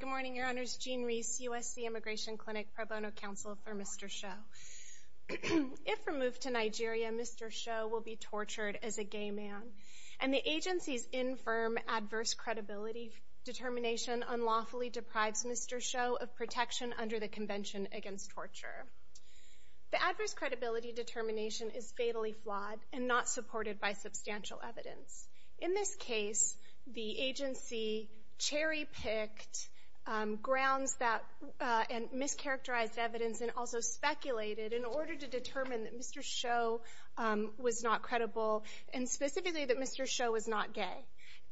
Good morning, your honors, Gene Reese, USC Immigration Clinic Pro Bono Counsel for Mr. Shoe. If removed to Nigeria, Mr. Shoe will be tortured as a gay man, and the agency's infirm adverse credibility determination unlawfully deprives Mr. Shoe of protection under the Convention Against Torture. The adverse credibility determination is fatally flawed and not supported by substantial evidence. In this case, the agency cherry-picked grounds and mischaracterized evidence and also speculated in order to determine that Mr. Shoe was not credible, and specifically that Mr. Shoe was not gay.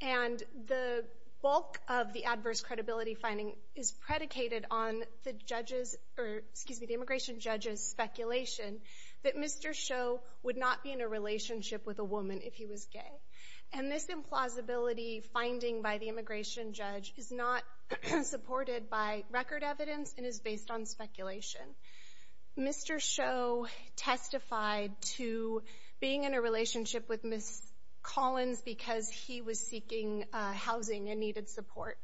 And the bulk of the adverse credibility finding is predicated on the immigration judge's speculation that Mr. Shoe would not be in a relationship with a woman if he was gay. And this implausibility finding by the immigration judge is not supported by record evidence and is based on speculation. Mr. Shoe testified to being in a relationship with Ms. Collins because he was seeking housing and needed support.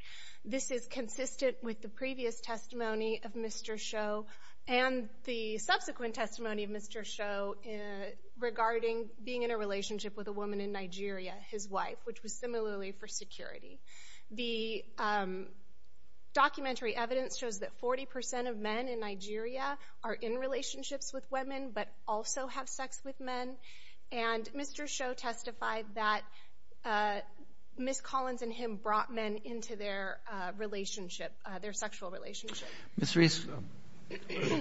This is consistent with the previous testimony of Mr. Shoe and the subsequent testimony of Mr. Shoe regarding being in a relationship with a woman in Nigeria, his wife, which was similarly for security. The documentary evidence shows that 40% of men in Nigeria are in relationships with women but also have sex with men. And Mr. Shoe testified that Ms. Collins and him brought men into their relationship, their sexual relationship. Mr. Reese.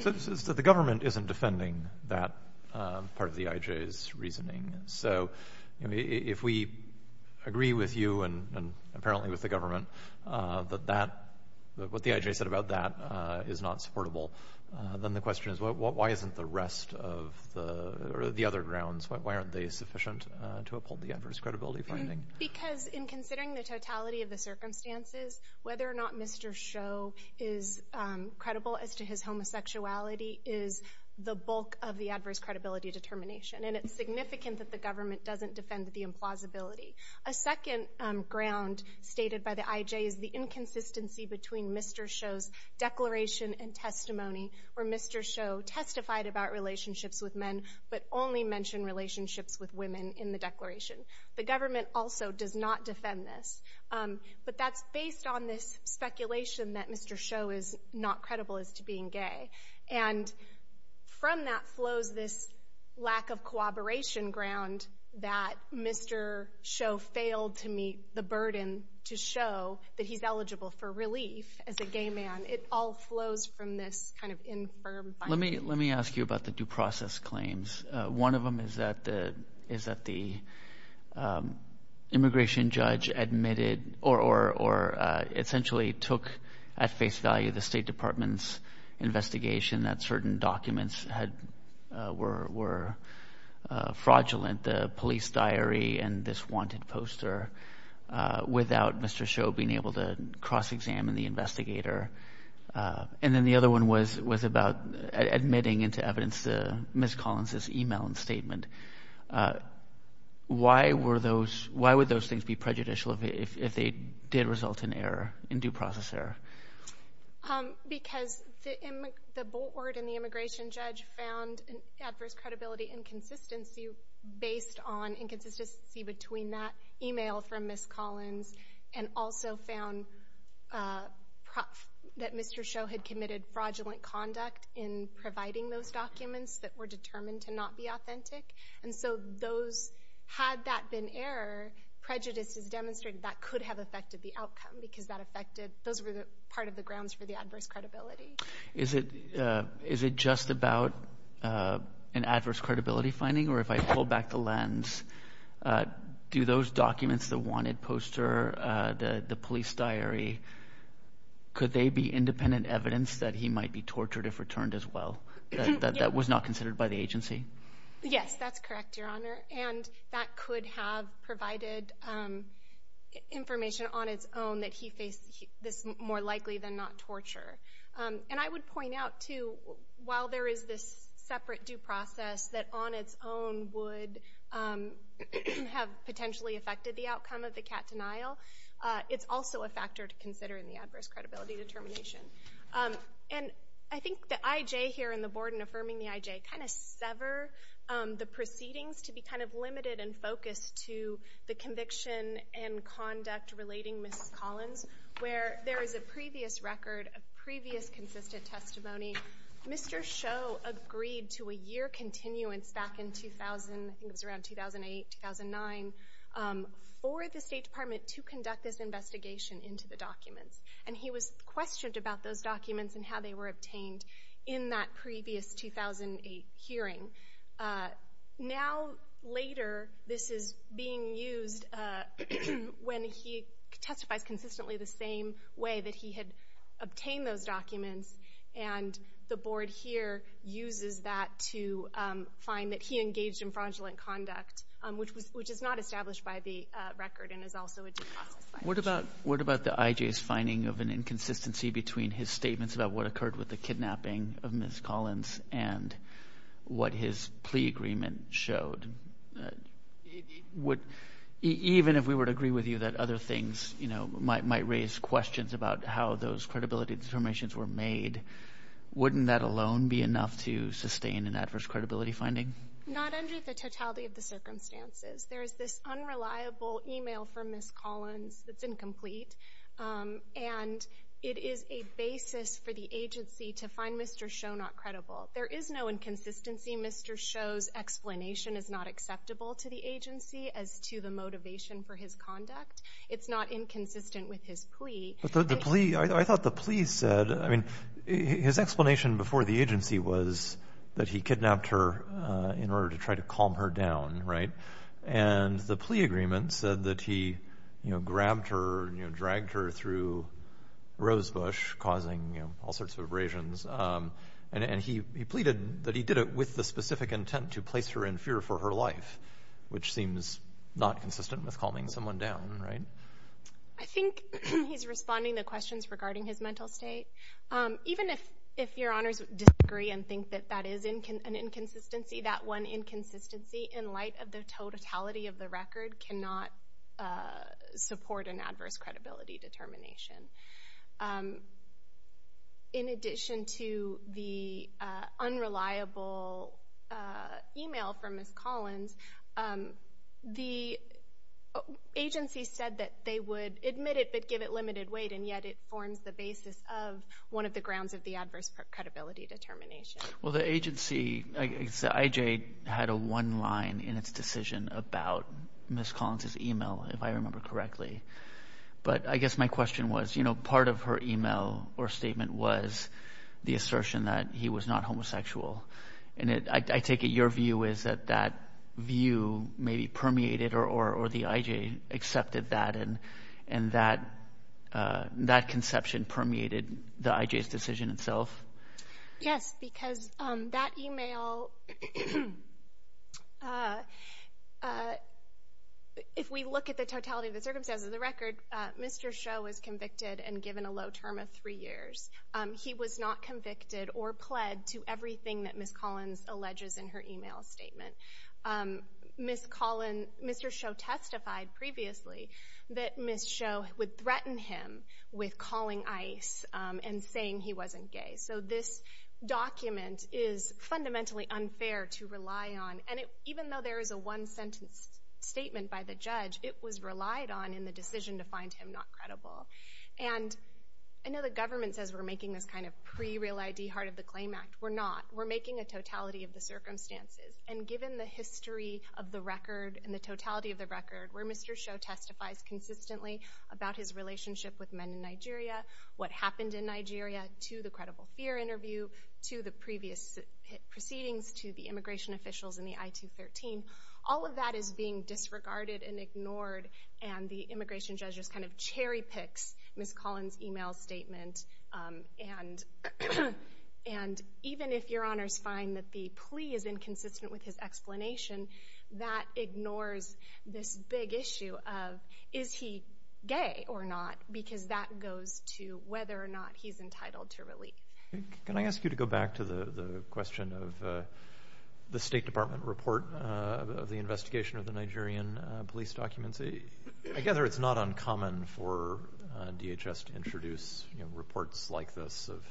So the government isn't defending that part of the IJ's reasoning. So if we agree with you and apparently with the government that that, what the IJ said about that is not supportable, then the question is why isn't the rest of the, or the other grounds, why aren't they sufficient to uphold the adverse credibility finding? Because in considering the totality of the circumstances, whether or not Mr. Shoe is credible as to his homosexuality is the bulk of the adverse credibility determination. And it's significant that the government doesn't defend the implausibility. A second ground stated by the IJ is the inconsistency between Mr. Shoe's declaration and testimony where Mr. Shoe testified about relationships with men but only mentioned relationships with women in the declaration. The government also does not defend this. But that's based on this speculation that Mr. Shoe is not credible as to being gay. And from that flows this lack of cooperation ground that Mr. Shoe failed to meet the burden to show that he's eligible for relief as a gay man. It all flows from this kind of infirm finding. Let me ask you about the due process claims. One of them is that the immigration judge admitted or essentially took at face value the State Department's investigation that certain documents were fraudulent, the police diary and this wanted poster, without Mr. Shoe being able to cross-examine the investigator. And then the other one was about admitting into evidence Ms. Collins' email and statement. Why would those things be prejudicial if they did result in error, in due process error? Because the board and the immigration judge found an adverse credibility inconsistency based on inconsistency between that email from Ms. Collins and also found that Mr. Shoe had committed fraudulent conduct in providing those documents that were determined to not be authentic. And so had that been error, prejudice is demonstrated that could have affected the outcome because that affected, those were part of the grounds for the adverse credibility. Is it just about an adverse credibility finding or if I pull back the lens, do those documents, the wanted poster, the police diary, could they be independent evidence that he might be tortured if returned as well? That was not considered by the agency? Yes, that's correct, Your Honor. And that could have provided information on its own that he faced this more likely than not torture. And I would point out too, while there is this separate due process that on its own would have potentially affected the outcome of the CAT denial, it's also a factor to consider in the adverse credibility determination. And I think the IJ here and the board in affirming the IJ kind of sever the proceedings to be kind of limited and focused to the conviction and conduct relating Ms. Collins, where there is a previous record, a previous consistent testimony. Mr. Shoe agreed to a year continuance back in 2000, I think it was around 2008, 2009, for the State Department to conduct this investigation into the documents. And he was questioned about those documents and how they were obtained in that previous 2008 hearing. Now, later, this is being used when he testifies consistently the same way that he had obtained those documents, and the board here uses that to find that he engaged in fraudulent conduct, which is not established by the record and is also a due process. What about the IJ's finding of an inconsistency between his statements about what occurred with the kidnapping of Ms. Collins and what his plea agreement showed? Even if we were to agree with you that other things might raise questions about how those credibility determinations were made, wouldn't that alone be enough to sustain an adverse credibility finding? Not under the totality of the circumstances. There is this unreliable e-mail from Ms. Collins that's incomplete, and it is a basis for the agency to find Mr. Shoe not credible. There is no inconsistency. Mr. Shoe's explanation is not acceptable to the agency as to the motivation for his conduct. It's not inconsistent with his plea. But the plea, I thought the plea said, I mean, his explanation before the agency was that he kidnapped her in order to try to calm her down, right? And the plea agreement said that he, you know, grabbed her, you know, dragged her through rosebush, causing, you know, all sorts of abrasions. And he pleaded that he did it with the specific intent to place her in fear for her life, which seems not consistent with calming someone down, right? I think he's responding to questions regarding his mental state. Even if your honors disagree and think that that is an inconsistency, that one inconsistency in light of the totality of the record cannot support an adverse credibility determination. In addition to the unreliable e-mail from Ms. Collins, the agency said that they would admit it but give it limited weight, and yet it forms the basis of one of the grounds of the adverse credibility determination. Well, the agency, the IJ had a one line in its decision about Ms. Collins' e-mail, if I remember correctly. But I guess my question was, you know, part of her e-mail or statement was the assertion that he was not homosexual. And I take it your view is that that view maybe permeated or the IJ accepted that assertion and that conception permeated the IJ's decision itself? Yes, because that e-mail, if we look at the totality of the circumstances of the record, Mr. Sho was convicted and given a low term of three years. He was not convicted or pled to everything that Ms. Collins alleges in her e-mail statement. Mr. Sho testified previously that Ms. Sho would threaten him with calling ICE and saying he wasn't gay. So this document is fundamentally unfair to rely on. And even though there is a one sentence statement by the judge, it was relied on in the decision to find him not credible. And I know the government says we're making this kind of pre-Real ID, heart of the claim act. We're not. We're making a totality of the circumstances. And given the history of the record and the totality of the record, where Mr. Sho testifies consistently about his relationship with men in Nigeria, what happened in Nigeria, to the credible fear interview, to the previous proceedings, to the immigration officials in the I-213, all of that is being disregarded and ignored. And the immigration judge just kind of cherry picks Ms. Collins' e-mail statement. And even if Your Honors find that the plea is inconsistent with his explanation, that ignores this big issue of is he gay or not, because that goes to whether or not he's entitled to relief. Can I ask you to go back to the question of the State Department report of the investigation of the Nigerian police documents? I gather it's not uncommon for DHS to introduce reports like this of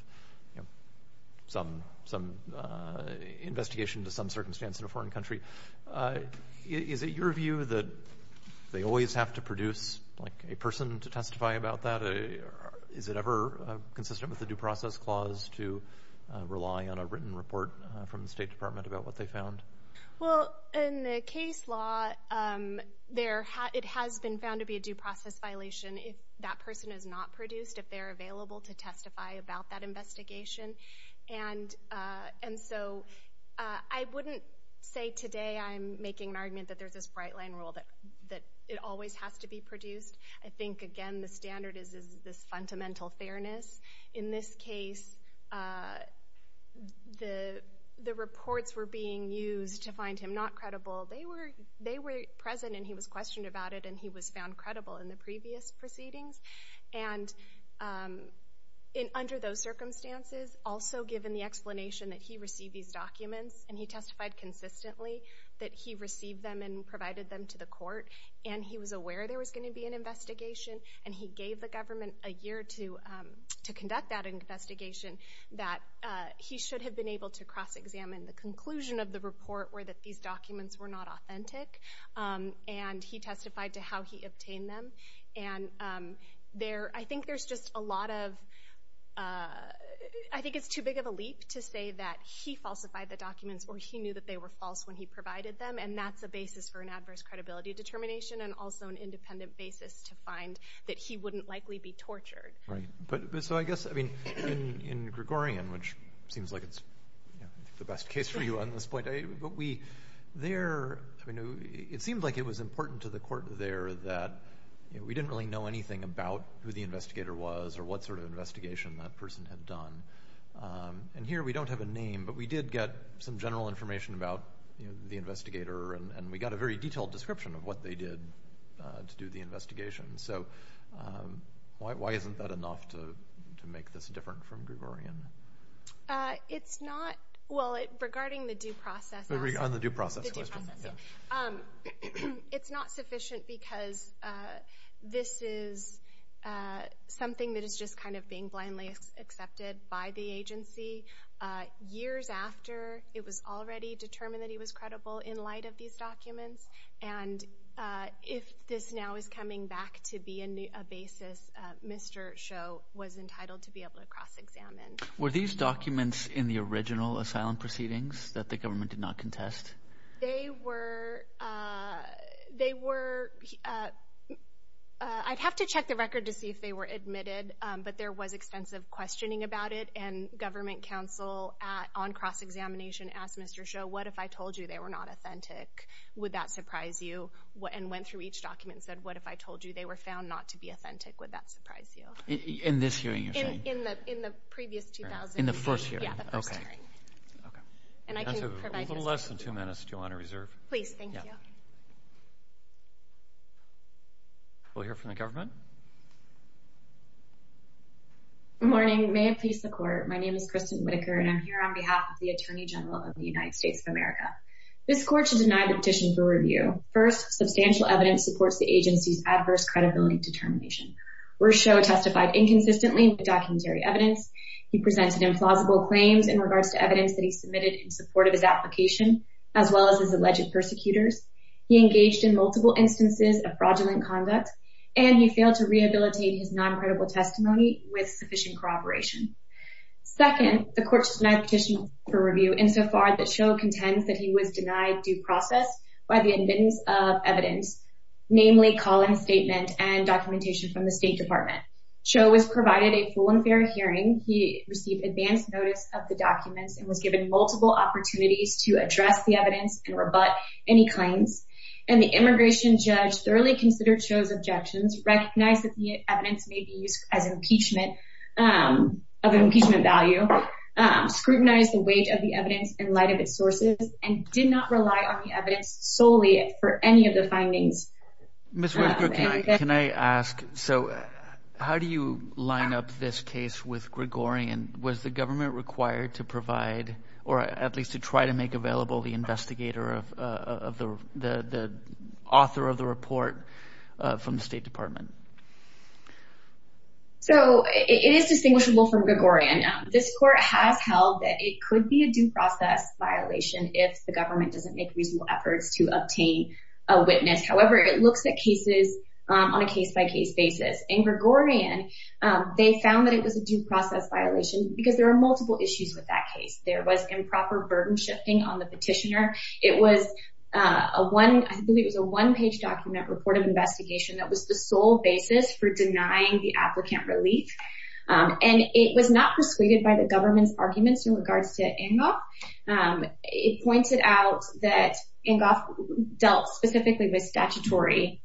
some investigation to some circumstance in a foreign country. Is it your view that they always have to produce a person to testify about that? Is it ever consistent with the due process clause to rely on a written report from the State Department about what they found? Well, in the case law, it has been found to be a due process violation if that person is not produced, if they're available to testify about that investigation. And so I wouldn't say today I'm making an argument that there's this bright-line rule that it always has to be produced. I think, again, the standard is this fundamental fairness. In this case, the reports were being used to find him not credible. They were present and he was questioned about it and he was found credible in the previous proceedings. And under those circumstances, also given the explanation that he received these documents and he testified consistently that he received them and provided them to the court and he was aware there was going to be an investigation and he gave the government a year to conduct that investigation that he should have been able to cross-examine. The conclusion of the report were that these documents were not authentic and he testified to how he obtained them. I think it's too big of a leap to say that he falsified the documents or he knew that they were false when he provided them and that's a basis for an adverse credibility determination and also an independent basis to find that he wouldn't likely be tortured. So I guess in Gregorian, which seems like it's the best case for you on this point, it seemed like it was important to the court there that we didn't really know anything about who the investigator was or what sort of investigation that person had done. And here we don't have a name, but we did get some general information about the investigator and we got a very detailed description of what they did to do the investigation. So why isn't that enough to make this different from Gregorian? It's not. Well, regarding the due process... On the due process question. It's not sufficient because this is something that is just kind of being blindly accepted by the agency. Years after it was already determined that he was credible in light of these documents and if this now is coming back to be a basis, Mr. Cho was entitled to be able to cross-examine. Were these documents in the original asylum proceedings that the government did not contest? They were... I'd have to check the record to see if they were admitted, but there was extensive questioning about it, and government counsel on cross-examination asked Mr. Cho, what if I told you they were not authentic? Would that surprise you? And went through each document and said, what if I told you they were found not to be authentic? Would that surprise you? In this hearing you're saying? In the previous 2000 hearing. In the first hearing. Yeah, the first hearing. Okay. And I can provide... We have a little less than two minutes. Do you want to reserve? Please, thank you. Thank you. We'll hear from the government. Good morning. May it please the court, my name is Kristen Whitaker, and I'm here on behalf of the Attorney General of the United States of America. This court should deny the petition for review. First, substantial evidence supports the agency's adverse credibility determination. Where Cho testified inconsistently with documentary evidence, he presented implausible claims in regards to evidence that he submitted in support of his application, as well as his alleged persecutors. He engaged in multiple instances of fraudulent conduct, and he failed to rehabilitate his noncredible testimony with sufficient cooperation. Second, the court should deny the petition for review, insofar that Cho contends that he was denied due process by the evidence of evidence, namely Colin's statement and documentation from the State Department. Cho was provided a full and fair hearing. He received advanced notice of the documents and was given multiple opportunities to address the evidence and rebut any claims. And the immigration judge thoroughly considered Cho's objections, recognized that the evidence may be used as impeachment of an impeachment value, scrutinized the weight of the evidence in light of its sources, and did not rely on the evidence solely for any of the findings. Ms. Whitaker, can I ask, so how do you line up this case with Gregorian? Was the government required to provide, or at least to try to make available, the investigator of the author of the report from the State Department? So it is distinguishable from Gregorian. This court has held that it could be a due process violation if the government doesn't make reasonable efforts to obtain a witness. However, it looks at cases on a case-by-case basis. In Gregorian, they found that it was a due process violation because there are multiple issues with that case. There was improper burden shifting on the petitioner. It was a one-page document report of investigation that was the sole basis for denying the applicant relief. And it was not persuaded by the government's arguments in regards to Ingoff. It pointed out that Ingoff dealt specifically with statutory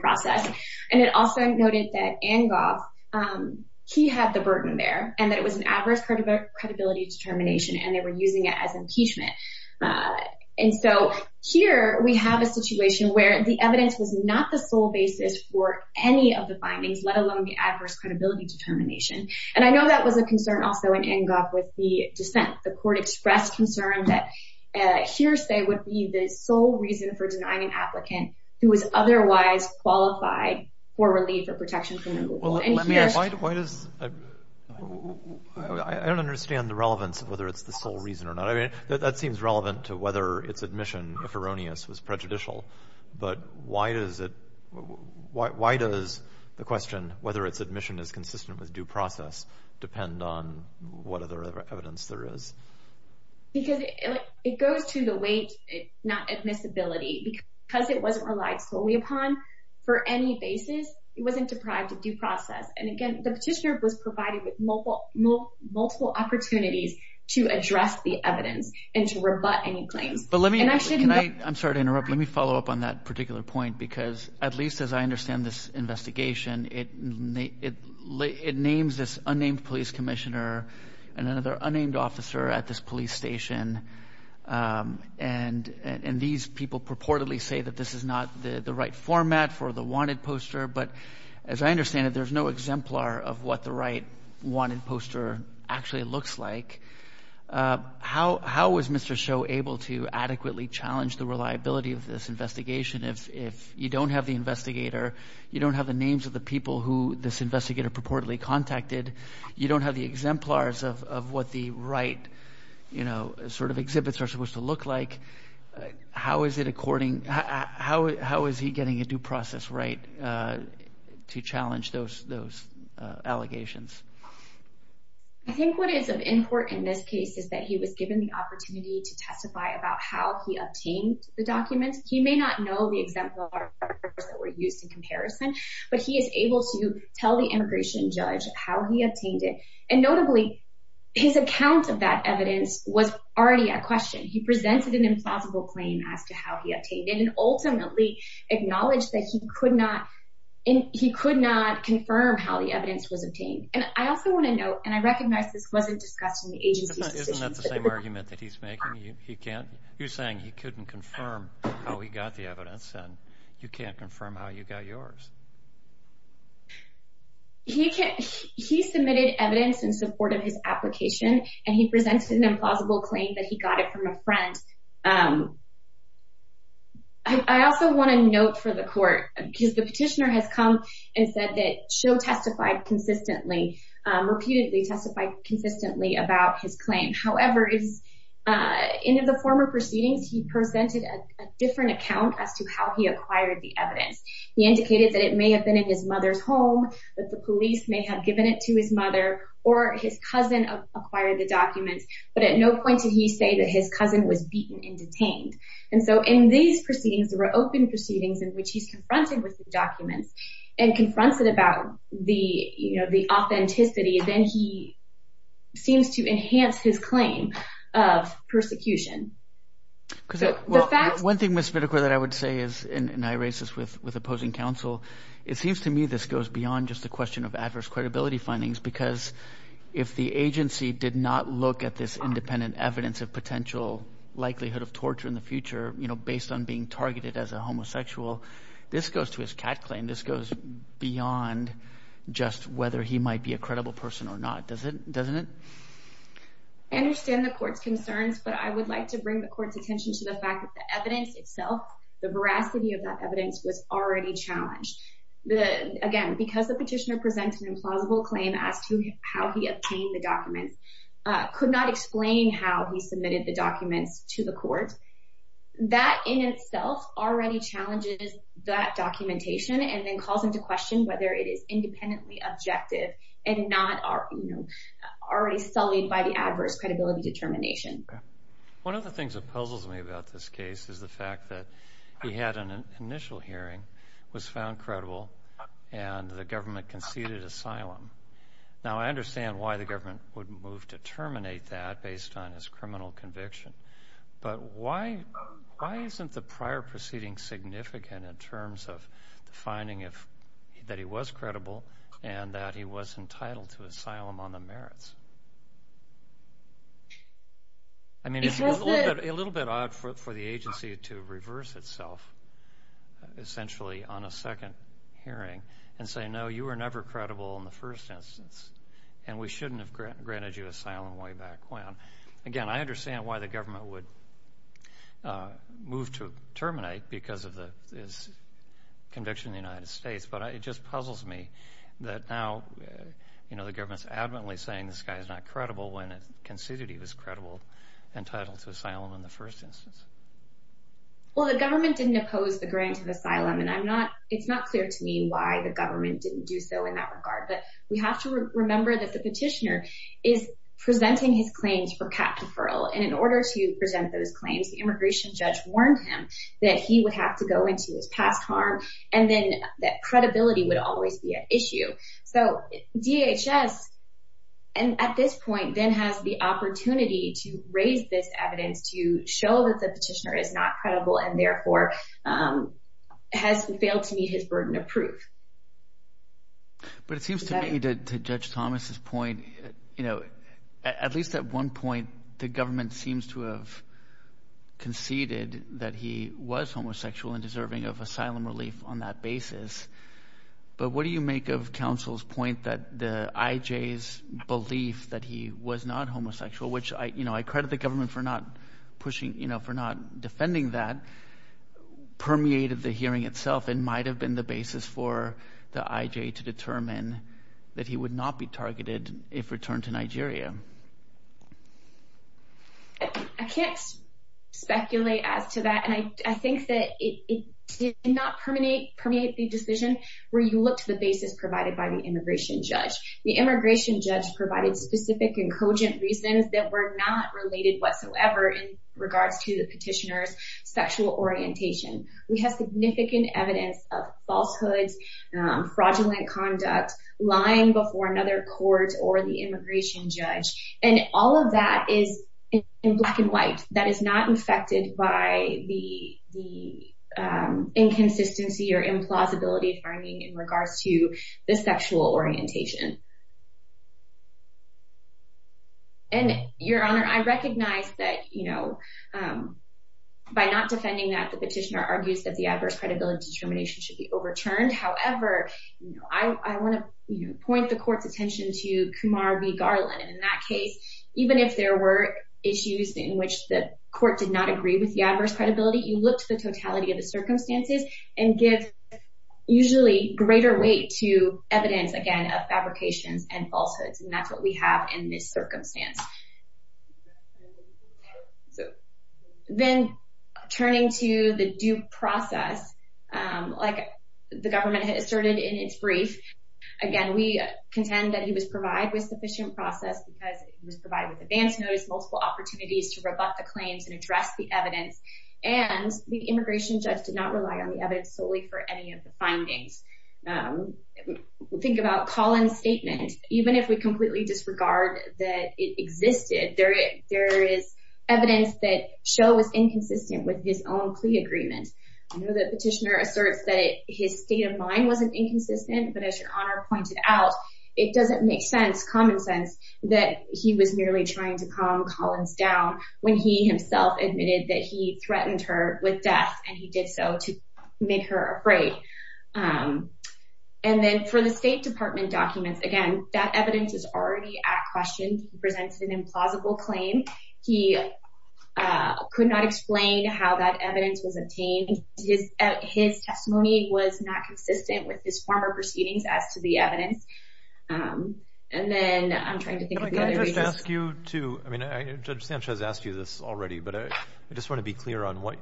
process. And it also noted that Ingoff, he had the burden there, and that it was an adverse credibility determination, and they were using it as impeachment. And so here we have a situation where the evidence was not the sole basis for any of the findings, let alone the adverse credibility determination. And I know that was a concern also in Ingoff with the dissent. The court expressed concern that hearsay would be the sole reason for denying an applicant who was otherwise qualified for relief or protection from removal. Let me ask, why does... I don't understand the relevance of whether it's the sole reason or not. I mean, that seems relevant to whether its admission, if erroneous, was prejudicial. But why does the question whether its admission is consistent with due process depend on what other evidence there is? Because it goes to the weight, not admissibility. Because it wasn't relied solely upon for any basis, it wasn't deprived of due process. And again, the petitioner was provided with multiple opportunities to address the evidence and to rebut any claims. I'm sorry to interrupt. Let me follow up on that particular point. Because at least as I understand this investigation, it names this unnamed police commissioner and another unnamed officer at this police station. And these people purportedly say that this is not the right format for the wanted poster. But as I understand it, there's no exemplar of what the right wanted poster actually looks like. How was Mr. Shoe able to adequately challenge the reliability of this investigation if you don't have the investigator, you don't have the names of the people who this investigator purportedly contacted, you don't have the exemplars of what the right sort of exhibits are supposed to look like? How is he getting a due process right to challenge those allegations? I think what is of importance in this case is that he was given the opportunity to testify about how he obtained the documents. He may not know the exemplars that were used in comparison, but he is able to tell the immigration judge how he obtained it. And notably, his account of that evidence was already at question. He presented an implausible claim as to how he obtained it And I also want to note, and I recognize this wasn't discussed in the agency's decision. Isn't that the same argument that he's making? You're saying he couldn't confirm how he got the evidence and you can't confirm how you got yours. He submitted evidence in support of his application, and he presented an implausible claim that he got it from a friend. I also want to note for the court, because the petitioner has come and said that she'll testify consistently, repeatedly testify consistently about his claim. However, in the former proceedings, he presented a different account as to how he acquired the evidence. He indicated that it may have been in his mother's home, that the police may have given it to his mother, or his cousin acquired the documents. But at no point did he say that his cousin was beaten and detained. And so in these proceedings, there were open proceedings in which he's confronted with the documents and confronts it about the authenticity. Then he seems to enhance his claim of persecution. One thing, Ms. Spitakor, that I would say is, and I raise this with opposing counsel, it seems to me this goes beyond just the question of adverse credibility findings because if the agency did not look at this independent evidence of potential likelihood of torture in the future based on being targeted as a homosexual, this goes to his cat claim. This goes beyond just whether he might be a credible person or not, doesn't it? I understand the court's concerns, but I would like to bring the court's attention to the fact that the evidence itself, the veracity of that evidence, was already challenged. Again, because the petitioner presented an implausible claim as to how he obtained the documents, could not explain how he submitted the documents to the court, that in itself already challenges that documentation and then calls into question whether it is independently objective and not already sullied by the adverse credibility determination. One of the things that puzzles me about this case is the fact that he had an initial hearing, was found credible, and the government conceded asylum. Now, I understand why the government would move to terminate that based on his criminal conviction, but why isn't the prior proceeding significant in terms of the finding that he was credible and that he was entitled to asylum on the merits? I mean, it's a little bit odd for the agency to reverse itself, essentially, on a second hearing and say, no, you were never credible in the first instance, and we shouldn't have granted you asylum way back when. Again, I understand why the government would move to terminate because of his conviction in the United States, but it just puzzles me that now the government is adamantly saying this guy is not credible when it conceded he was credible and entitled to asylum in the first instance. Well, the government didn't oppose the grant of asylum, and it's not clear to me why the government didn't do so in that regard. But we have to remember that the petitioner is presenting his claims for cap deferral, and in order to present those claims, the immigration judge warned him that he would have to go into his past harm and then that credibility would always be at issue. So, DHS, at this point, then has the opportunity to raise this evidence to show that the petitioner is not credible and, therefore, has failed to meet his burden of proof. But it seems to me, to Judge Thomas's point, at least at one point, the government seems to have conceded that he was homosexual and deserving of asylum relief on that basis. But what do you make of counsel's point that the IJ's belief that he was not homosexual, which I credit the government for not defending that, permeated the hearing itself and might have been the basis for the IJ to determine that he would not be targeted if returned to Nigeria? I can't speculate as to that, and I think that it did not permeate the decision where you look to the basis provided by the immigration judge. The immigration judge provided specific and cogent reasons that were not related whatsoever in regards to the petitioner's sexual orientation. We have significant evidence of falsehoods, fraudulent conduct, lying before another court or the immigration judge. And all of that is in black and white. That is not affected by the inconsistency or implausibility finding in regards to the sexual orientation. And, Your Honor, I recognize that by not defending that, the petitioner argues that the adverse credibility determination should be overturned. However, I want to point the court's attention to Kumar v. Garland. And in that case, even if there were issues in which the court did not agree with the adverse credibility, you look to the totality of the circumstances and give usually greater weight to evidence, again, of fabrications and falsehoods. And that's what we have in this circumstance. Then turning to the due process, like the government asserted in its brief, again, we contend that he was provided with sufficient process because he was provided with advance notice, multiple opportunities to rebut the claims and address the evidence. And the immigration judge did not rely on the evidence solely for any of the findings. Think about Collin's statement. Even if we completely disregard that it existed, there is evidence that Sho was inconsistent with his own plea agreement. I know the petitioner asserts that his state of mind wasn't inconsistent, but as Your Honor pointed out, it doesn't make sense, common sense, that he was merely trying to calm Collin's down when he himself admitted that he threatened her with death and he did so to make her afraid. And then for the State Department documents, again, that evidence is already at question. He presents an implausible claim. He could not explain how that evidence was obtained. His testimony was not consistent with his former proceedings as to the evidence. And then I'm trying to think of the other reasons. Can I just ask you to, I mean, Judge Sanchez asked you this already, but I just want to be clear on what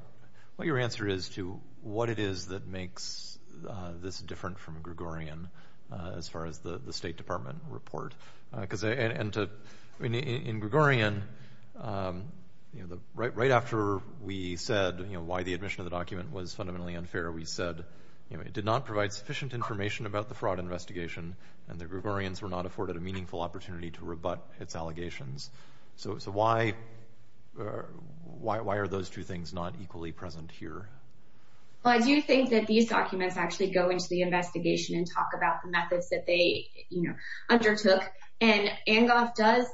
your answer is to what it is that makes this different from Gregorian as far as the State Department report. Because in Gregorian, right after we said why the admission of the document was fundamentally unfair, we said it did not provide sufficient information about the fraud investigation and the Gregorians were not afforded a meaningful opportunity to rebut its allegations. So why are those two things not equally present here? Well, I do think that these documents actually go into the investigation and talk about the methods that they undertook. And ANGOF does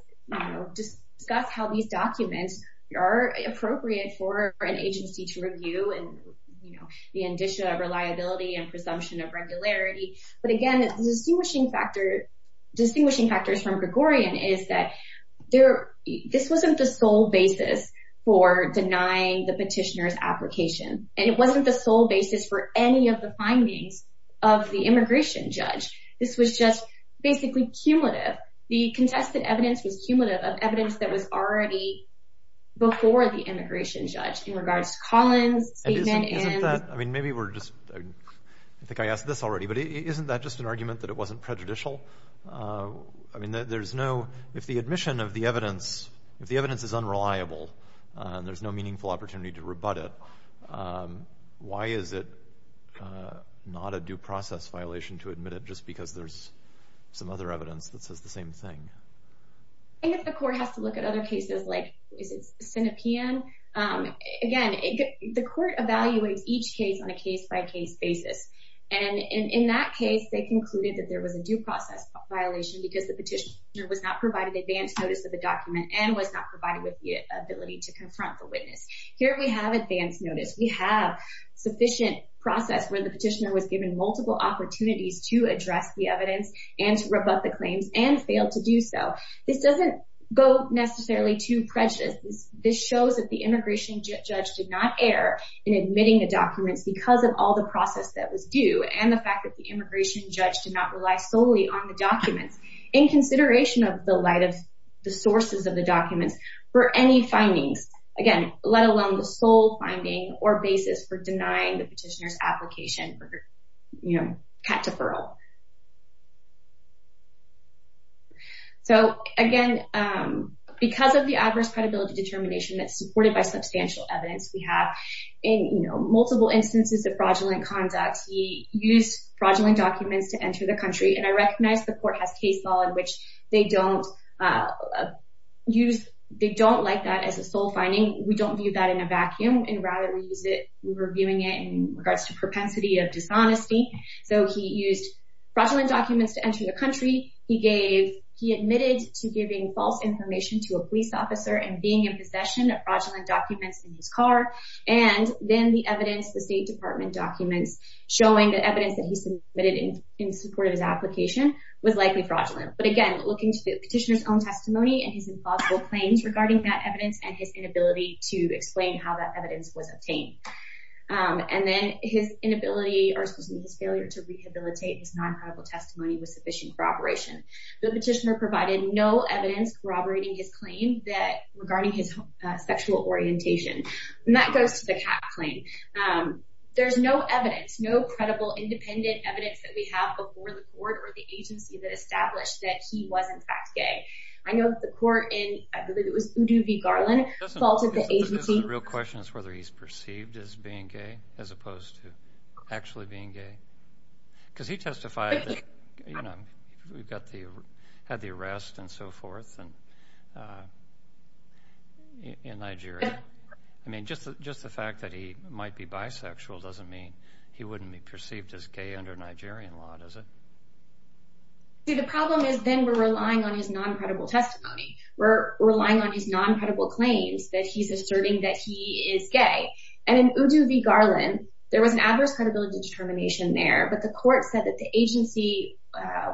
discuss how these documents are appropriate for an agency to review and the addition of reliability and presumption of regularity. But again, the distinguishing factors from Gregorian is that this wasn't the sole basis for denying the petitioner's application. And it wasn't the sole basis for any of the findings of the immigration judge. This was just basically cumulative. The contested evidence was cumulative of evidence that was already before the immigration judge in regards to Collins' statement. And isn't that, I mean, maybe we're just, I think I asked this already, but isn't that just an argument that it wasn't prejudicial? I mean, there's no, if the admission of the evidence, if the evidence is unreliable and there's no meaningful opportunity to rebut it, why is it not a due process violation to admit it just because there's some other evidence that says the same thing? I think if the court has to look at other cases like, is it Sinopean? Again, the court evaluates each case on a case-by-case basis. And in that case, they concluded that there was a due process violation because the petitioner was not provided advance notice of the document and was not provided with the ability to confront the witness. Here we have advance notice. We have sufficient process where the petitioner was given multiple opportunities to address the evidence and to rebut the claims and failed to do so. This doesn't go necessarily to prejudice. This shows that the immigration judge did not err in admitting the documents because of all the process that was due and the fact that the immigration judge did not rely solely on the documents in consideration of the light of the sources of the documents for any findings, again, let alone the sole finding or basis for denying the petitioner's application for, you know, cat deferral. So, again, because of the adverse credibility determination that's supported by substantial evidence, we have multiple instances of fraudulent conduct. He used fraudulent documents to enter the country, and I recognize the court has case law in which they don't like that as a sole finding. We don't view that in a vacuum, and rather we're viewing it in regards to propensity of dishonesty. So he used fraudulent documents to enter the country. He admitted to giving false information to a police officer and being in possession of fraudulent documents in his car, and then the evidence, the State Department documents, showing the evidence that he submitted in support of his application was likely fraudulent. But, again, looking to the petitioner's own testimony and his implausible claims regarding that evidence and his inability to explain how that evidence was obtained. And then his inability or excuse me, his failure to rehabilitate his non-credible testimony with sufficient corroboration. The petitioner provided no evidence corroborating his claim regarding his sexual orientation. And that goes to the CAC claim. There's no evidence, no credible independent evidence that we have before the court or the agency that established that he was in fact gay. I know that the court in, I believe it was Udo V. Garland, faulted the agency. This is a real question as to whether he's perceived as being gay as opposed to actually being gay. Because he testified that, you know, he had the arrest and so forth in Nigeria. I mean, just the fact that he might be bisexual doesn't mean he wouldn't be perceived as gay under Nigerian law, does it? See, the problem is then we're relying on his non-credible testimony. We're relying on his non-credible claims that he's asserting that he is gay. And in Udo V. Garland, there was an adverse credibility determination there, but the court said that the agency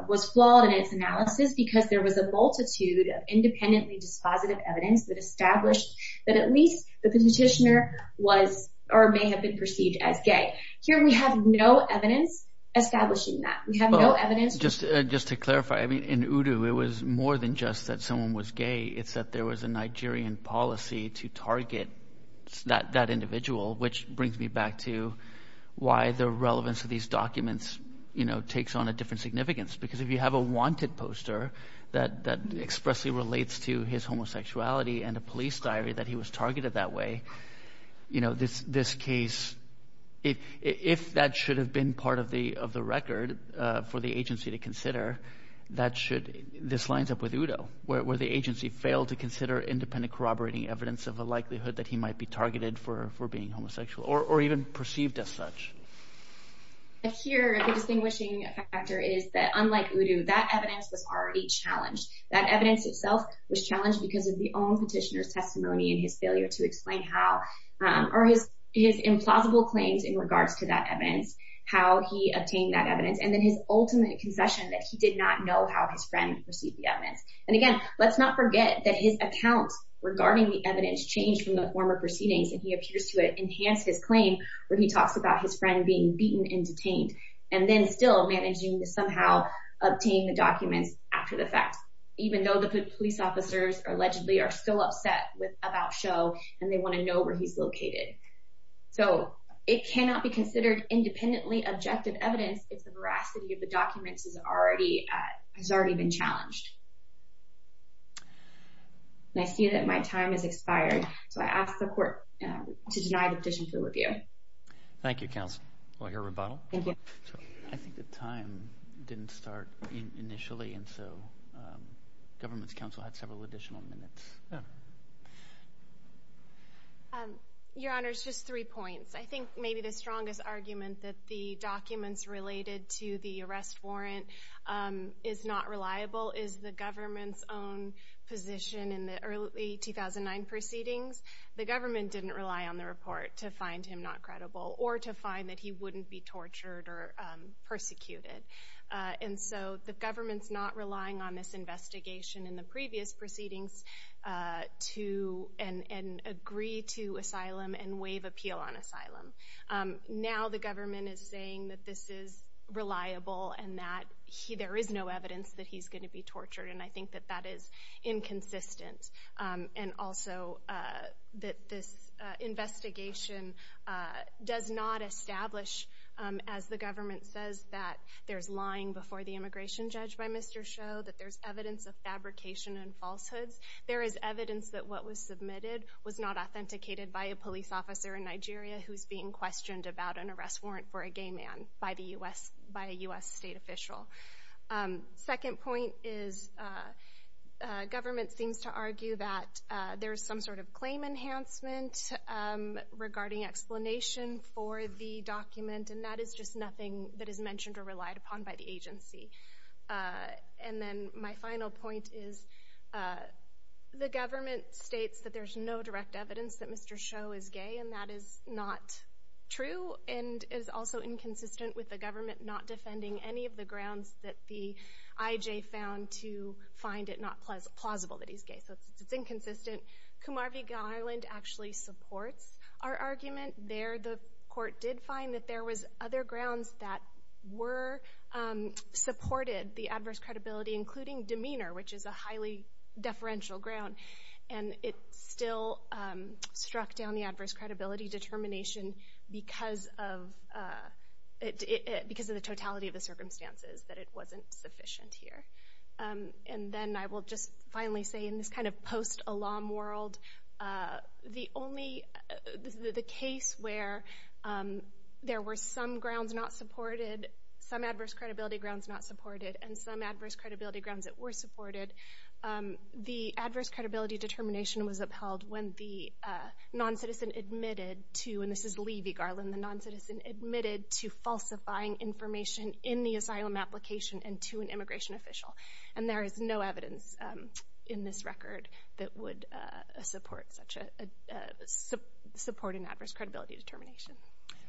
was flawed in its analysis because there was a multitude of independently dispositive evidence that established that at least the petitioner was or may have been perceived as gay. Here we have no evidence establishing that. We have no evidence— Well, just to clarify, I mean in Udo it was more than just that someone was gay. It's that there was a Nigerian policy to target that individual, which brings me back to why the relevance of these documents takes on a different significance. Because if you have a wanted poster that expressly relates to his homosexuality and a police diary that he was targeted that way, this case, if that should have been part of the record for the agency to consider, this lines up with Udo, where the agency failed to consider independent corroborating evidence of a likelihood that he might be targeted for being homosexual or even perceived as such. Here the distinguishing factor is that unlike Udo, that evidence was already challenged. That evidence itself was challenged because of the own petitioner's testimony and his failure to explain how—or his implausible claims in regards to that evidence, how he obtained that evidence, and then his ultimate concession that he did not know how his friend received the evidence. And again, let's not forget that his account regarding the evidence changed from the former proceedings and he appears to have enhanced his claim where he talks about his friend being beaten and detained and then still managing to somehow obtain the documents after the fact, even though the police officers allegedly are still upset with About Show and they want to know where he's located. So it cannot be considered independently objective evidence if the veracity of the documents has already been challenged. And I see that my time has expired, so I ask the court to deny the petition for review. Thank you, Counsel. Do I hear a rebuttal? I think the time didn't start initially, and so Government's Counsel had several additional minutes. Yeah. Your Honors, just three points. I think maybe the strongest argument that the documents related to the arrest warrant is not reliable is the Government's own position in the early 2009 proceedings. The Government didn't rely on the report to find him not credible or to find that he wouldn't be tortured or persecuted. And so the Government's not relying on this investigation in the previous proceedings to agree to asylum and waive appeal on asylum. Now the Government is saying that this is reliable and that there is no evidence that he's going to be tortured, and I think that that is inconsistent. And also that this investigation does not establish, as the Government says, that there's evidence of fabrication and falsehoods. There is evidence that what was submitted was not authenticated by a police officer in Nigeria who's being questioned about an arrest warrant for a gay man by a U.S. state official. Second point is Government seems to argue that there's some sort of claim enhancement regarding explanation for the document, and that is just nothing that is mentioned or relied upon by the agency. And then my final point is the Government states that there's no direct evidence that Mr. Sho is gay, and that is not true, and is also inconsistent with the Government not defending any of the grounds that the IJ found to find it not plausible that he's gay. So it's inconsistent. Comarviga, Ireland, actually supports our argument. There the court did find that there was other grounds that supported the adverse credibility, including demeanor, which is a highly deferential ground, and it still struck down the adverse credibility determination because of the totality of the circumstances, that it wasn't sufficient here. And then I will just finally say in this kind of post-alum world, the case where there were some grounds not supported, some adverse credibility grounds not supported, and some adverse credibility grounds that were supported, the adverse credibility determination was upheld when the non-citizen admitted to, and this is Lee v. Garland, the non-citizen admitted to falsifying information in the asylum application and to an immigration official. And there is no evidence in this record that would support an adverse credibility determination.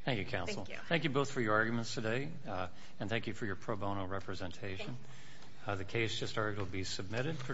Thank you, counsel. Thank you both for your arguments today, and thank you for your pro bono representation. The case just argued will be submitted for decision.